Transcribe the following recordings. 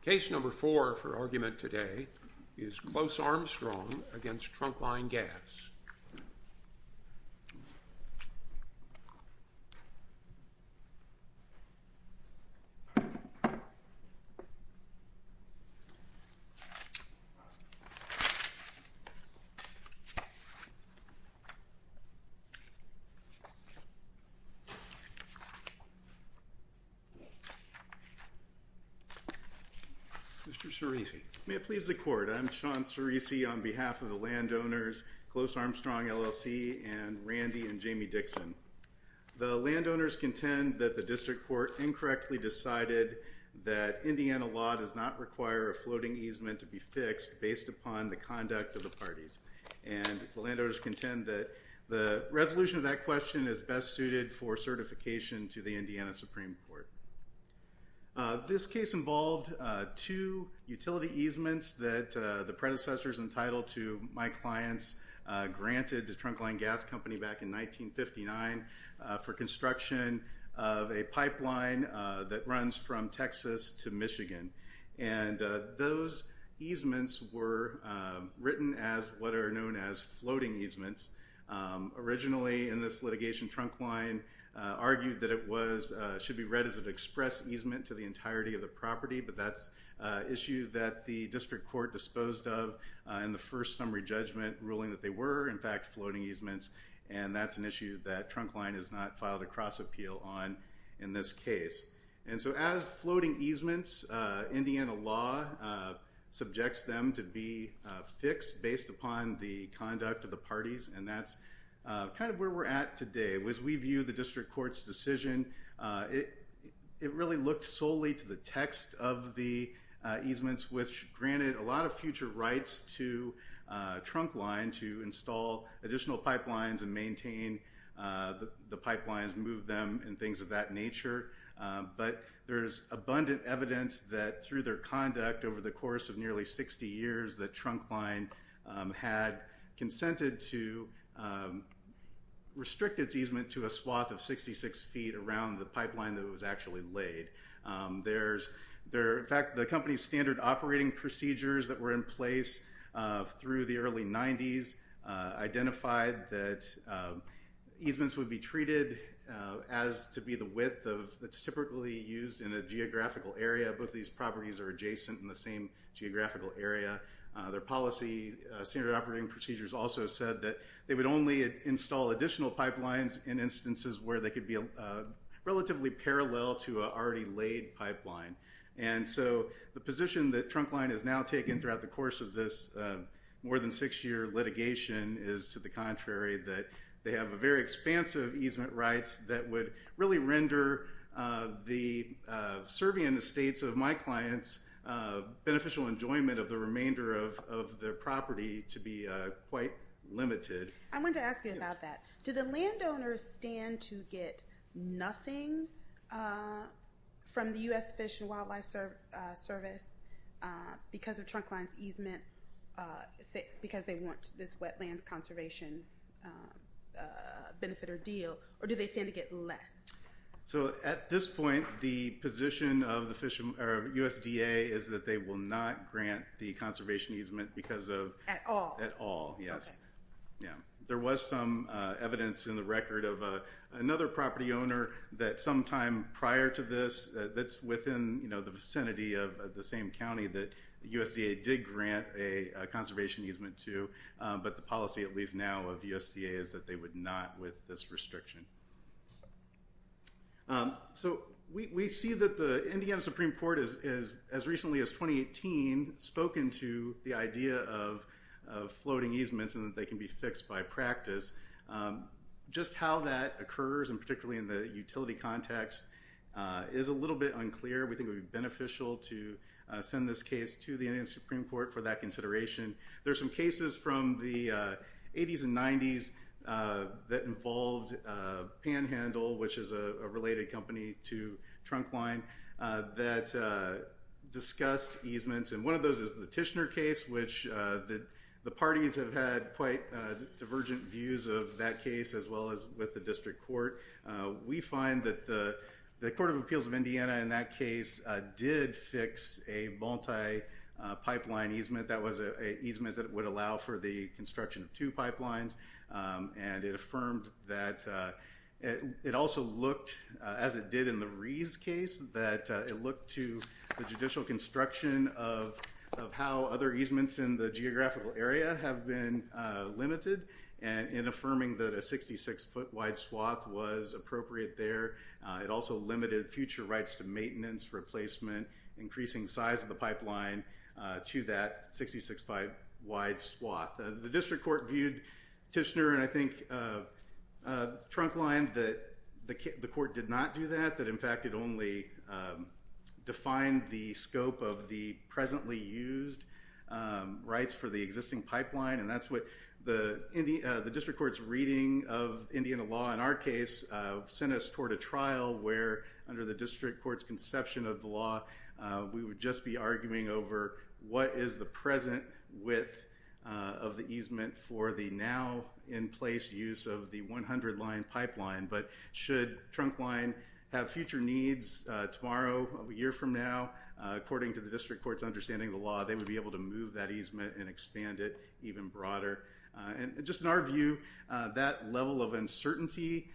Case number four for argument today is Close Armstrong v. Trunkline Gas. Mr. Cerisi. May it please the Court. I'm Sean Cerisi on behalf of the landowners, Close Armstrong, LLC, and Randy and Jamie Dixon. The landowners contend that the district court incorrectly decided that Indiana law does not require a floating easement to be fixed based upon the conduct of the parties. And the landowners contend that the resolution of that question is best suited for certification to the Indiana Supreme Court. This case involved two utility easements that the predecessors entitled to my clients granted to Trunkline Gas Company back in 1959 for construction of a pipeline that runs from Texas to Michigan. And those easements were written as what are known as floating easements. Originally in this litigation, Trunkline argued that it should be read as an express easement to the entirety of the property, but that's an issue that the district court disposed of in the first summary judgment ruling that they were, in fact, floating easements. And that's an issue that Trunkline has not filed a cross-appeal on in this case. And so as floating easements, Indiana law subjects them to be fixed based upon the conduct of the parties, and that's kind of where we're at today. As we view the district court's decision, it really looked solely to the text of the easements, which granted a lot of future rights to Trunkline to install additional pipelines and maintain the pipelines, move them, and things of that nature. But there's abundant evidence that through their conduct over the course of nearly 60 years that Trunkline had consented to restrict its easement to a swath of 66 feet around the pipeline that it was actually laid. In fact, the company's standard operating procedures that were in place through the early 90s identified that easements would be treated as to be the width that's typically used in a geographical area. Both of these properties are adjacent in the same geographical area. Their policy standard operating procedures also said that they would only install additional pipelines in instances where they could be relatively parallel to an already laid pipeline. And so the position that Trunkline has now taken throughout the course of this more than six year litigation is to the contrary, that they have a very expansive easement rights that would really render the serving in the states of my clients beneficial enjoyment of the remainder of their property to be quite limited. I wanted to ask you about that. Do the landowners stand to get nothing from the U.S. Fish and Wildlife Service because of Trunkline's easement, because they want this wetlands conservation benefit or deal, or do they stand to get less? So at this point, the position of USDA is that they will not grant the conservation easement because of... At all? At all, yes. Yeah. There was some evidence in the record of another property owner that sometime prior to this that's within the vicinity of the same county that USDA did grant a conservation easement to, but the policy at least now of USDA is that they would not with this restriction. So we see that the Indiana Supreme Court has, as recently as 2018, spoken to the idea of floating easements and that they can be fixed by practice. Just how that occurs, and particularly in the utility context, is a little bit unclear. We think it would be beneficial to send this case to the Indiana Supreme Court for that consideration. There's some cases from the 80s and 90s that involved Panhandle, which is a related company to Trunkline, that discussed easements, and one of those is the Tishner case, which the parties have had quite divergent views of that case as well as with the district court. We find that the Court of Appeals of Indiana in that case did fix a multi-pipeline easement. That was an easement that would allow for the construction of two pipelines, and it affirmed that... It also looked, as it did in the Rees case, that it looked to the judicial construction of how other easements in the geographical area have been limited, and affirming that a 66-foot wide swath was appropriate there. It also limited future rights to maintenance, replacement, increasing size of the pipeline to that 66-foot wide swath. The district court viewed Tishner, and I think Trunkline, that the court did not do that, that in fact it only defined the scope of the presently used rights for the existing pipeline. And that's what the district court's reading of Indiana law in our case sent us toward a trial where, under the district court's conception of the law, we would just be arguing over what is the present width of the easement for the now-in-place use of the 100-line pipeline. But should Trunkline have future needs tomorrow, a year from now, according to the district court's understanding of the law, they would be able to move that easement and expand it even broader. And just in our view, that level of uncertainty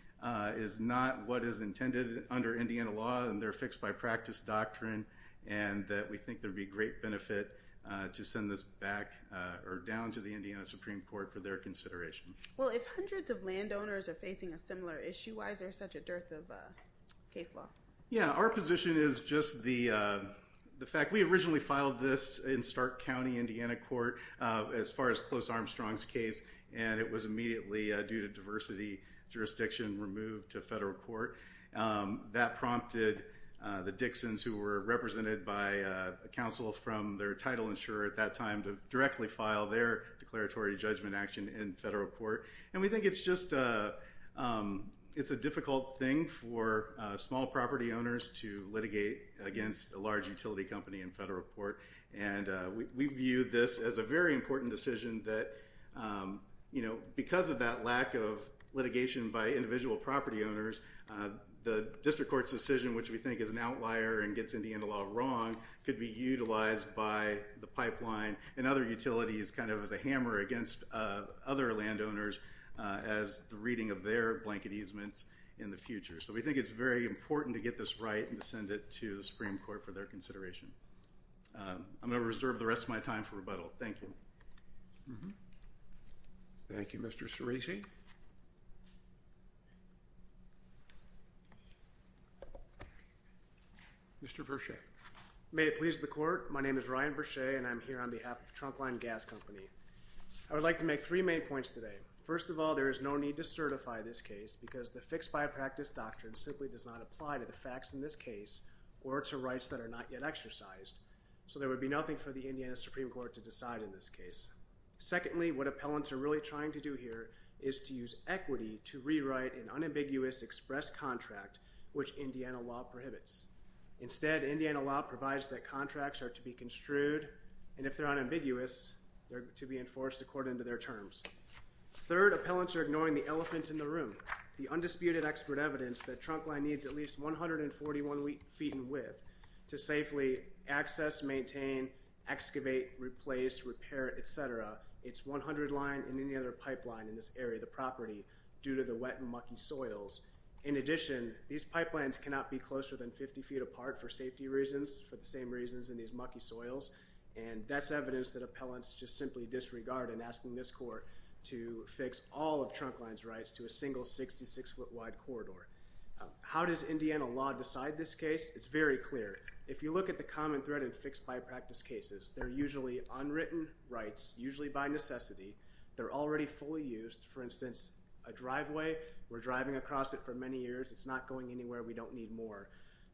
is not what is intended under Indiana law, and they're fixed by practice doctrine, and we think there would be great benefit to send this back or down to the Indiana Supreme Court for their consideration. Well, if hundreds of landowners are facing a similar issue, why is there such a dearth of case law? Yeah, our position is just the fact we originally filed this in Stark County, Indiana court, as far as Close Armstrong's case, and it was immediately, due to diversity jurisdiction, removed to federal court. That prompted the Dixons, who were represented by a counsel from their title insurer at that time, to directly file their declaratory judgment action in federal court. And we think it's just a difficult thing for small property owners to litigate against a large utility company in federal court. And we view this as a very important decision that, you know, because of that lack of litigation by individual property owners, the district court's decision, which we think is an outlier and gets Indiana law wrong, could be utilized by the pipeline and other utilities kind of as a hammer against other landowners as the reading of their blanket easements in the future. So we think it's very important to get this right and to send it to the Supreme Court for their consideration. I'm going to reserve the rest of my time for rebuttal. Thank you. Thank you, Mr. Cerici. Mr. Verchey. May it please the court, my name is Ryan Verchey, and I'm here on behalf of Trunk Line Gas Company. I would like to make three main points today. First of all, there is no need to certify this case because the fixed by practice doctrine simply does not apply to the facts in this case or to rights that are not yet exercised. So there would be nothing for the Indiana Supreme Court to decide in this case. Secondly, what appellants are really trying to do here is to use equity to rewrite an unambiguous express contract, which Indiana law prohibits. Instead, Indiana law provides that contracts are to be construed, and if they're unambiguous, they're to be enforced according to their terms. Third, appellants are ignoring the elephant in the room, the undisputed expert evidence that Trunk Line needs at least 141 feet in width to safely access, maintain, excavate, replace, repair, etc. It's 100 line and any other pipeline in this area of the property due to the wet and mucky soils. In addition, these pipelines cannot be closer than 50 feet apart for safety reasons, for the same reasons in these mucky soils, and that's evidence that appellants just simply disregard in asking this court to fix all of Trunk Line's rights to a single 66 foot wide corridor. How does Indiana law decide this case? It's very clear. If you look at the common thread in fixed by practice cases, they're usually unwritten rights, usually by necessity. They're already fully used. For instance, a driveway, we're driving across it for many years, it's not going anywhere, we don't need more.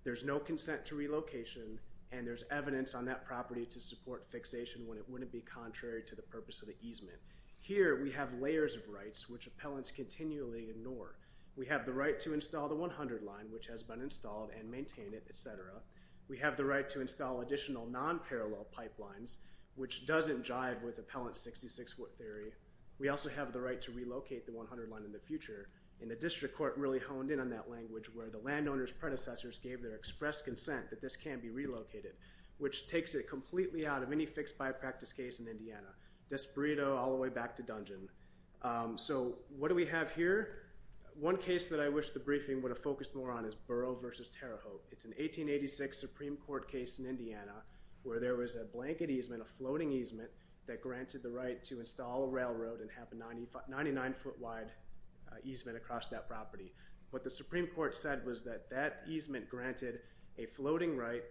There's no consent to relocation, and there's evidence on that property to support fixation when it wouldn't be contrary to the purpose of the easement. Here, we have layers of rights which appellants continually ignore. We have the right to install the 100 line, which has been installed and maintained, etc. We have the right to install additional non-parallel pipelines, which doesn't jive with appellant's 66 foot theory. We also have the right to relocate the 100 line in the future, and the district court really honed in on that language, where the landowner's predecessors gave their express consent that this can be relocated, which takes it completely out of any fixed by practice case in Indiana. Desperado all the way back to dungeon. So what do we have here? One case that I wish the briefing would have focused more on is Burrow v. Terre Haute. It's an 1886 Supreme Court case in Indiana where there was a blanket easement, a floating easement, that granted the right to install a railroad and have a 99 foot wide easement across that property. What the Supreme Court said was that that easement granted a floating right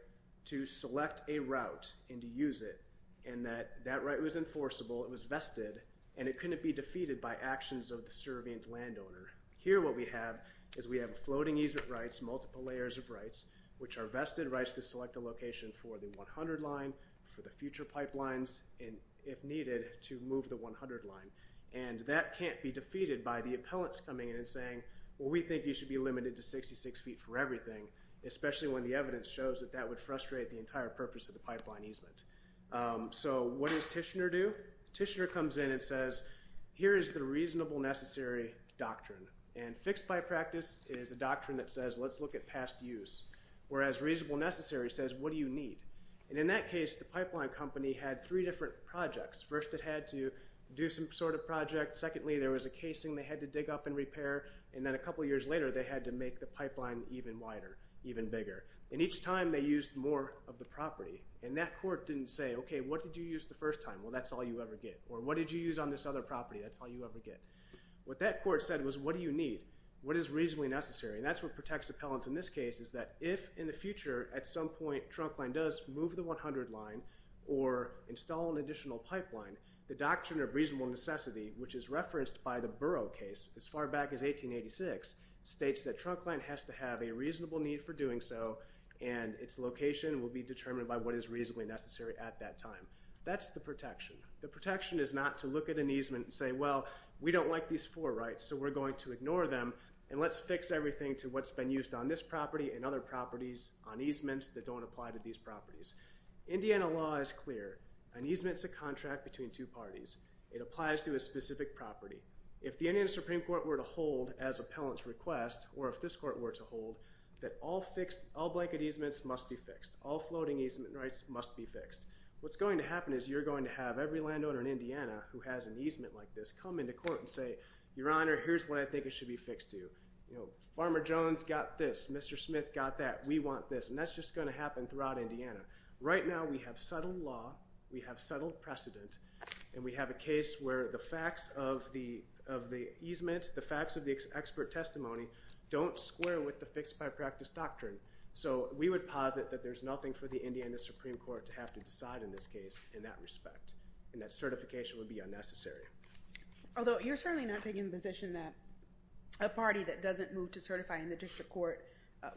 to select a route and to use it, and that that right was enforceable, it was vested, and it couldn't be defeated by actions of the servient landowner. Here what we have is we have floating easement rights, multiple layers of rights, which are vested rights to select a location for the 100 line, for the future pipelines, and if needed, to move the 100 line. And that can't be defeated by the appellants coming in and saying, well, we think you should be limited to 66 feet for everything, especially when the evidence shows that that would frustrate the entire purpose of the pipeline easement. So what does Tishner do? Tishner comes in and says, here is the reasonable necessary doctrine. And fixed by practice is a doctrine that says, let's look at past use, whereas reasonable necessary says, what do you need? And in that case, the pipeline company had three different projects. First, it had to do some sort of project. Secondly, there was a casing they had to dig up and repair. And then a couple years later, they had to make the pipeline even wider, even bigger. And each time they used more of the property. And that court didn't say, okay, what did you use the first time? Well, that's all you ever get. Or what did you use on this other property? That's all you ever get. What that court said was, what do you need? What is reasonably necessary? And that's what protects appellants in this case is that if in the future at some point Trunkline does move the 100 line or install an additional pipeline, the doctrine of reasonable necessity, which is referenced by the Burrough case as far back as 1886, states that Trunkline has to have a reasonable need for doing so, and its location will be determined by what is reasonably necessary at that time. That's the protection. The protection is not to look at an easement and say, well, we don't like these four rights, so we're going to ignore them, and let's fix everything to what's been used on this property and other properties on easements that don't apply to these properties. Indiana law is clear. An easement is a contract between two parties. It applies to a specific property. If the Indiana Supreme Court were to hold, as appellants request, or if this court were to hold, that all blanket easements must be fixed. All floating easement rights must be fixed. What's going to happen is you're going to have every landowner in Indiana who has an easement like this come into court and say, Your Honor, here's what I think it should be fixed to. Farmer Jones got this. Mr. Smith got that. We want this. And that's just going to happen throughout Indiana. Right now we have settled law, we have settled precedent, and we have a case where the facts of the easement, the facts of the expert testimony, don't square with the fixed-by-practice doctrine. So we would posit that there's nothing for the Indiana Supreme Court to have to decide in this case in that respect and that certification would be unnecessary. Although you're certainly not taking the position that a party that doesn't move to certify in the district court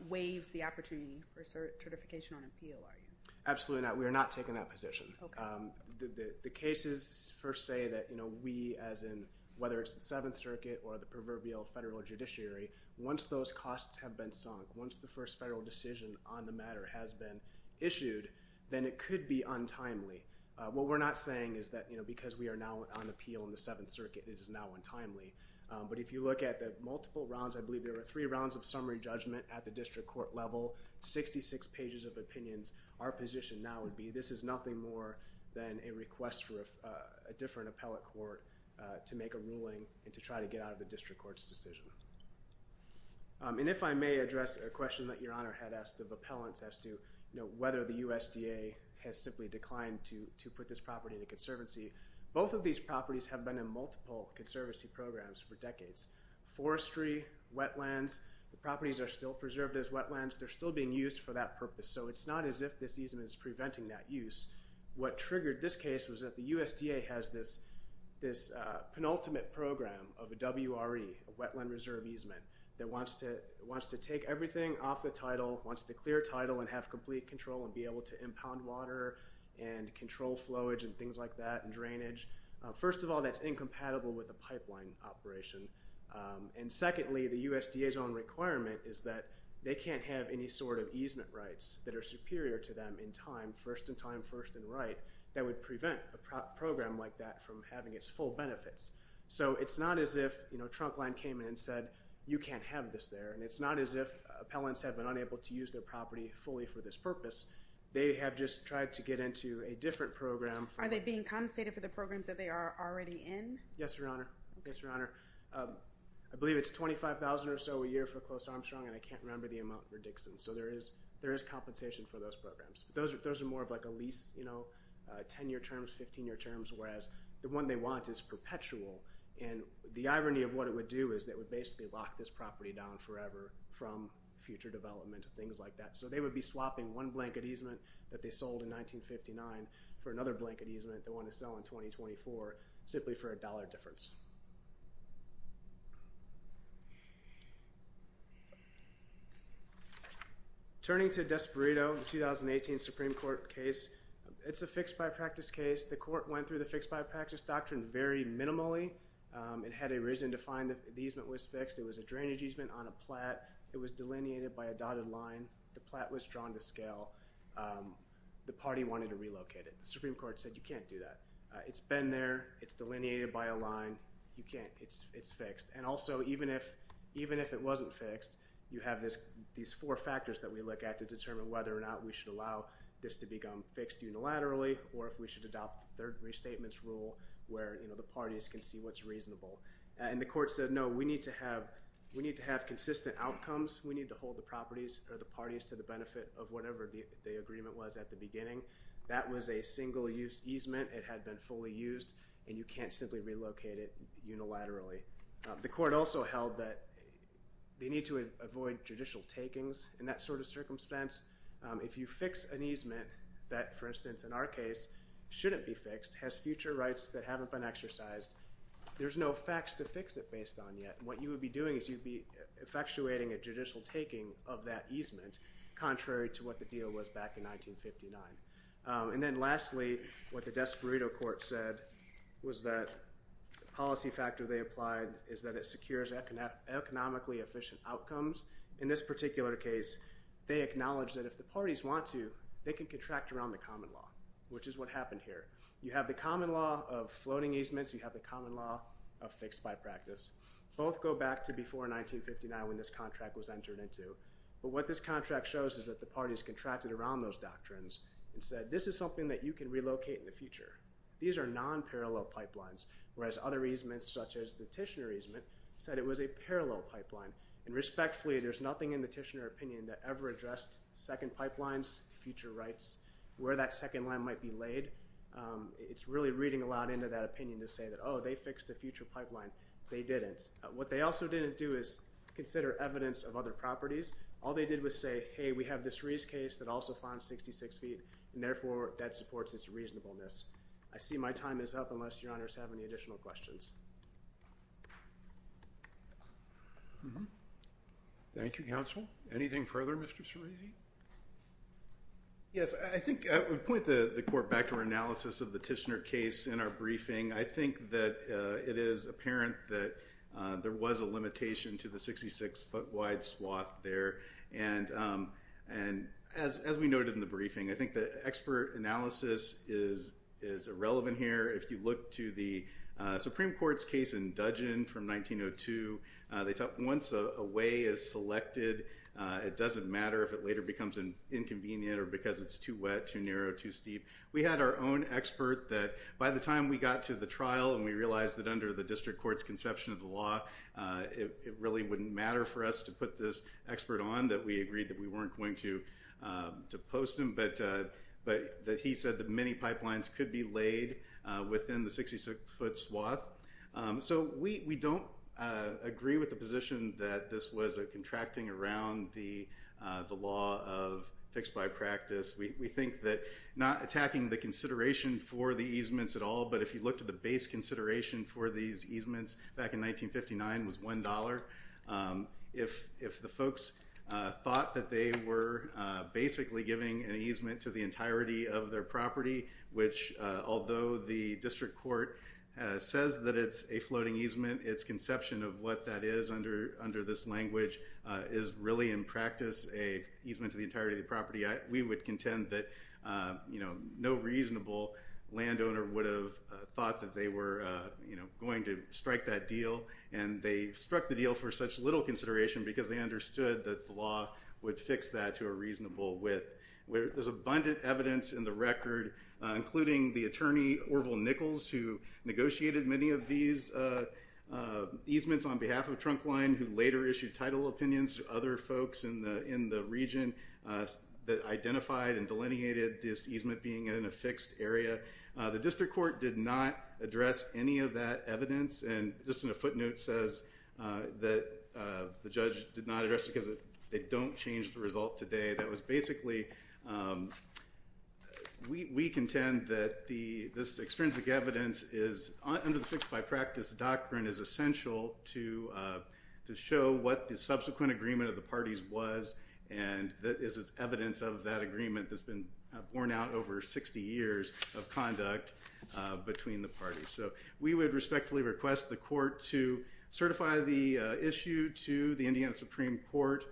waives the opportunity for certification on appeal, are you? Absolutely not. We are not taking that position. The cases first say that we, as in whether it's the Seventh Circuit or the proverbial federal judiciary, once those costs have been sunk, once the first federal decision on the matter has been issued, then it could be untimely. What we're not saying is that because we are now on appeal in the Seventh Circuit, it is now untimely. But if you look at the multiple rounds, I believe there were three rounds of summary judgment at the district court level, 66 pages of opinions, our position now would be this is nothing more than a request for a different appellate court to make a ruling and to try to get out of the district court's decision. And if I may address a question that Your Honor had asked of appellants as to whether the USDA has simply declined to put this property in a conservancy. Both of these properties have been in multiple conservancy programs for decades. Forestry, wetlands, the properties are still preserved as wetlands. They're still being used for that purpose. So it's not as if this easement is preventing that use. What triggered this case was that the USDA has this penultimate program of a WRE, wetland reserve easement, that wants to take everything off the title, wants to clear title and have complete control and be able to impound water and control flowage and things like that and drainage. First of all, that's incompatible with a pipeline operation. And secondly, the USDA's own requirement is that they can't have any sort of easement rights that are superior to them in time, first in time, first in right, that would prevent a program like that from having its full benefits. So it's not as if Trunk Line came in and said, you can't have this there, and it's not as if appellants have been unable to use their property fully for this purpose. They have just tried to get into a different program. Are they being compensated for the programs that they are already in? Yes, Your Honor. Yes, Your Honor. I believe it's $25,000 or so a year for Close Armstrong, and I can't remember the amount for Dixon. So there is compensation for those programs. Those are more of like a lease, you know, 10-year terms, 15-year terms, whereas the one they want is perpetual. And the irony of what it would do is it would basically lock this property down forever from future development and things like that. So they would be swapping one blanket easement that they sold in 1959 for another blanket easement, the one they sell in 2024, simply for a dollar difference. Turning to Desperado, the 2018 Supreme Court case, it's a fixed-by-practice case. The court went through the fixed-by-practice doctrine very minimally. It had a reason to find that the easement was fixed. It was a drainage easement on a plat. It was delineated by a dotted line. The plat was drawn to scale. The party wanted to relocate it. The Supreme Court said you can't do that. It's been there. It's delineated by a line. You can't. It's fixed. And also, even if it wasn't fixed, you have these four factors that we look at to determine whether or not we should allow this to become fixed unilaterally or if we should adopt the third restatement's rule where, you know, the parties can see what's reasonable. And the court said, no, we need to have consistent outcomes. We need to hold the properties or the parties to the benefit of whatever the agreement was at the beginning. That was a single-use easement. It had been fully used, and you can't simply relocate it unilaterally. The court also held that they need to avoid judicial takings in that sort of circumstance. If you fix an easement that, for instance, in our case, shouldn't be fixed, has future rights that haven't been exercised, there's no facts to fix it based on yet. What you would be doing is you'd be effectuating a judicial taking of that easement, contrary to what the deal was back in 1959. And then lastly, what the Desperado court said was that the policy factor they applied is that it secures economically efficient outcomes. In this particular case, they acknowledged that if the parties want to, they can contract around the common law, which is what happened here. You have the common law of floating easements. You have the common law of fixed by practice. Both go back to before 1959 when this contract was entered into. But what this contract shows is that the parties contracted around those doctrines and said, this is something that you can relocate in the future. These are nonparallel pipelines, whereas other easements, such as the Tishner easement, said it was a parallel pipeline. And respectfully, there's nothing in the Tishner opinion that ever addressed second pipelines, future rights, where that second line might be laid. It's really reading aloud into that opinion to say that, oh, they fixed the future pipeline. They didn't. What they also didn't do is consider evidence of other properties. All they did was say, hey, we have the Cerise case that also farms 66 feet, and therefore that supports its reasonableness. I see my time is up unless your honors have any additional questions. Thank you, counsel. Anything further, Mr. Cerise? Yes, I think I would point the court back to our analysis of the Tishner case in our briefing. I think that it is apparent that there was a limitation to the 66-foot-wide swath there. And as we noted in the briefing, I think the expert analysis is irrelevant here. If you look to the Supreme Court's case in Dudgeon from 1902, once a way is selected, it doesn't matter if it later becomes inconvenient or because it's too wet, too narrow, too steep. We had our own expert that by the time we got to the trial and we realized that under the district court's conception of the law, it really wouldn't matter for us to put this expert on, that we agreed that we weren't going to post him. But he said that many pipelines could be laid within the 66-foot swath. So we don't agree with the position that this was a contracting around the law of fixed by practice. We think that not attacking the consideration for the easements at all, but if you look to the base consideration for these easements back in 1959 was $1. If the folks thought that they were basically giving an easement to the entirety of their property, which although the district court says that it's a floating easement, its conception of what that is under this language is really in practice a easement to the entirety of the property. We would contend that no reasonable landowner would have thought that they were going to strike that deal, and they struck the deal for such little consideration because they understood that the law would fix that to a reasonable width. There's abundant evidence in the record, including the attorney Orville Nichols, who negotiated many of these easements on behalf of Trunk Line, who later issued title opinions to other folks in the region that identified and delineated this easement being in a fixed area. The district court did not address any of that evidence, and just in a footnote says that the judge did not address it because they don't change the result today. That was basically, we contend that this extrinsic evidence is, under the fixed by practice doctrine, is essential to show what the subsequent agreement of the parties was, and that is evidence of that agreement that's been borne out over 60 years of conduct between the parties. So we would respectfully request the court to certify the issue to the Indiana Supreme Court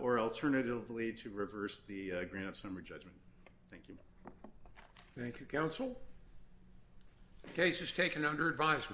or alternatively to reverse the grant of summary judgment. Thank you. Thank you, counsel. Case is taken under advisement.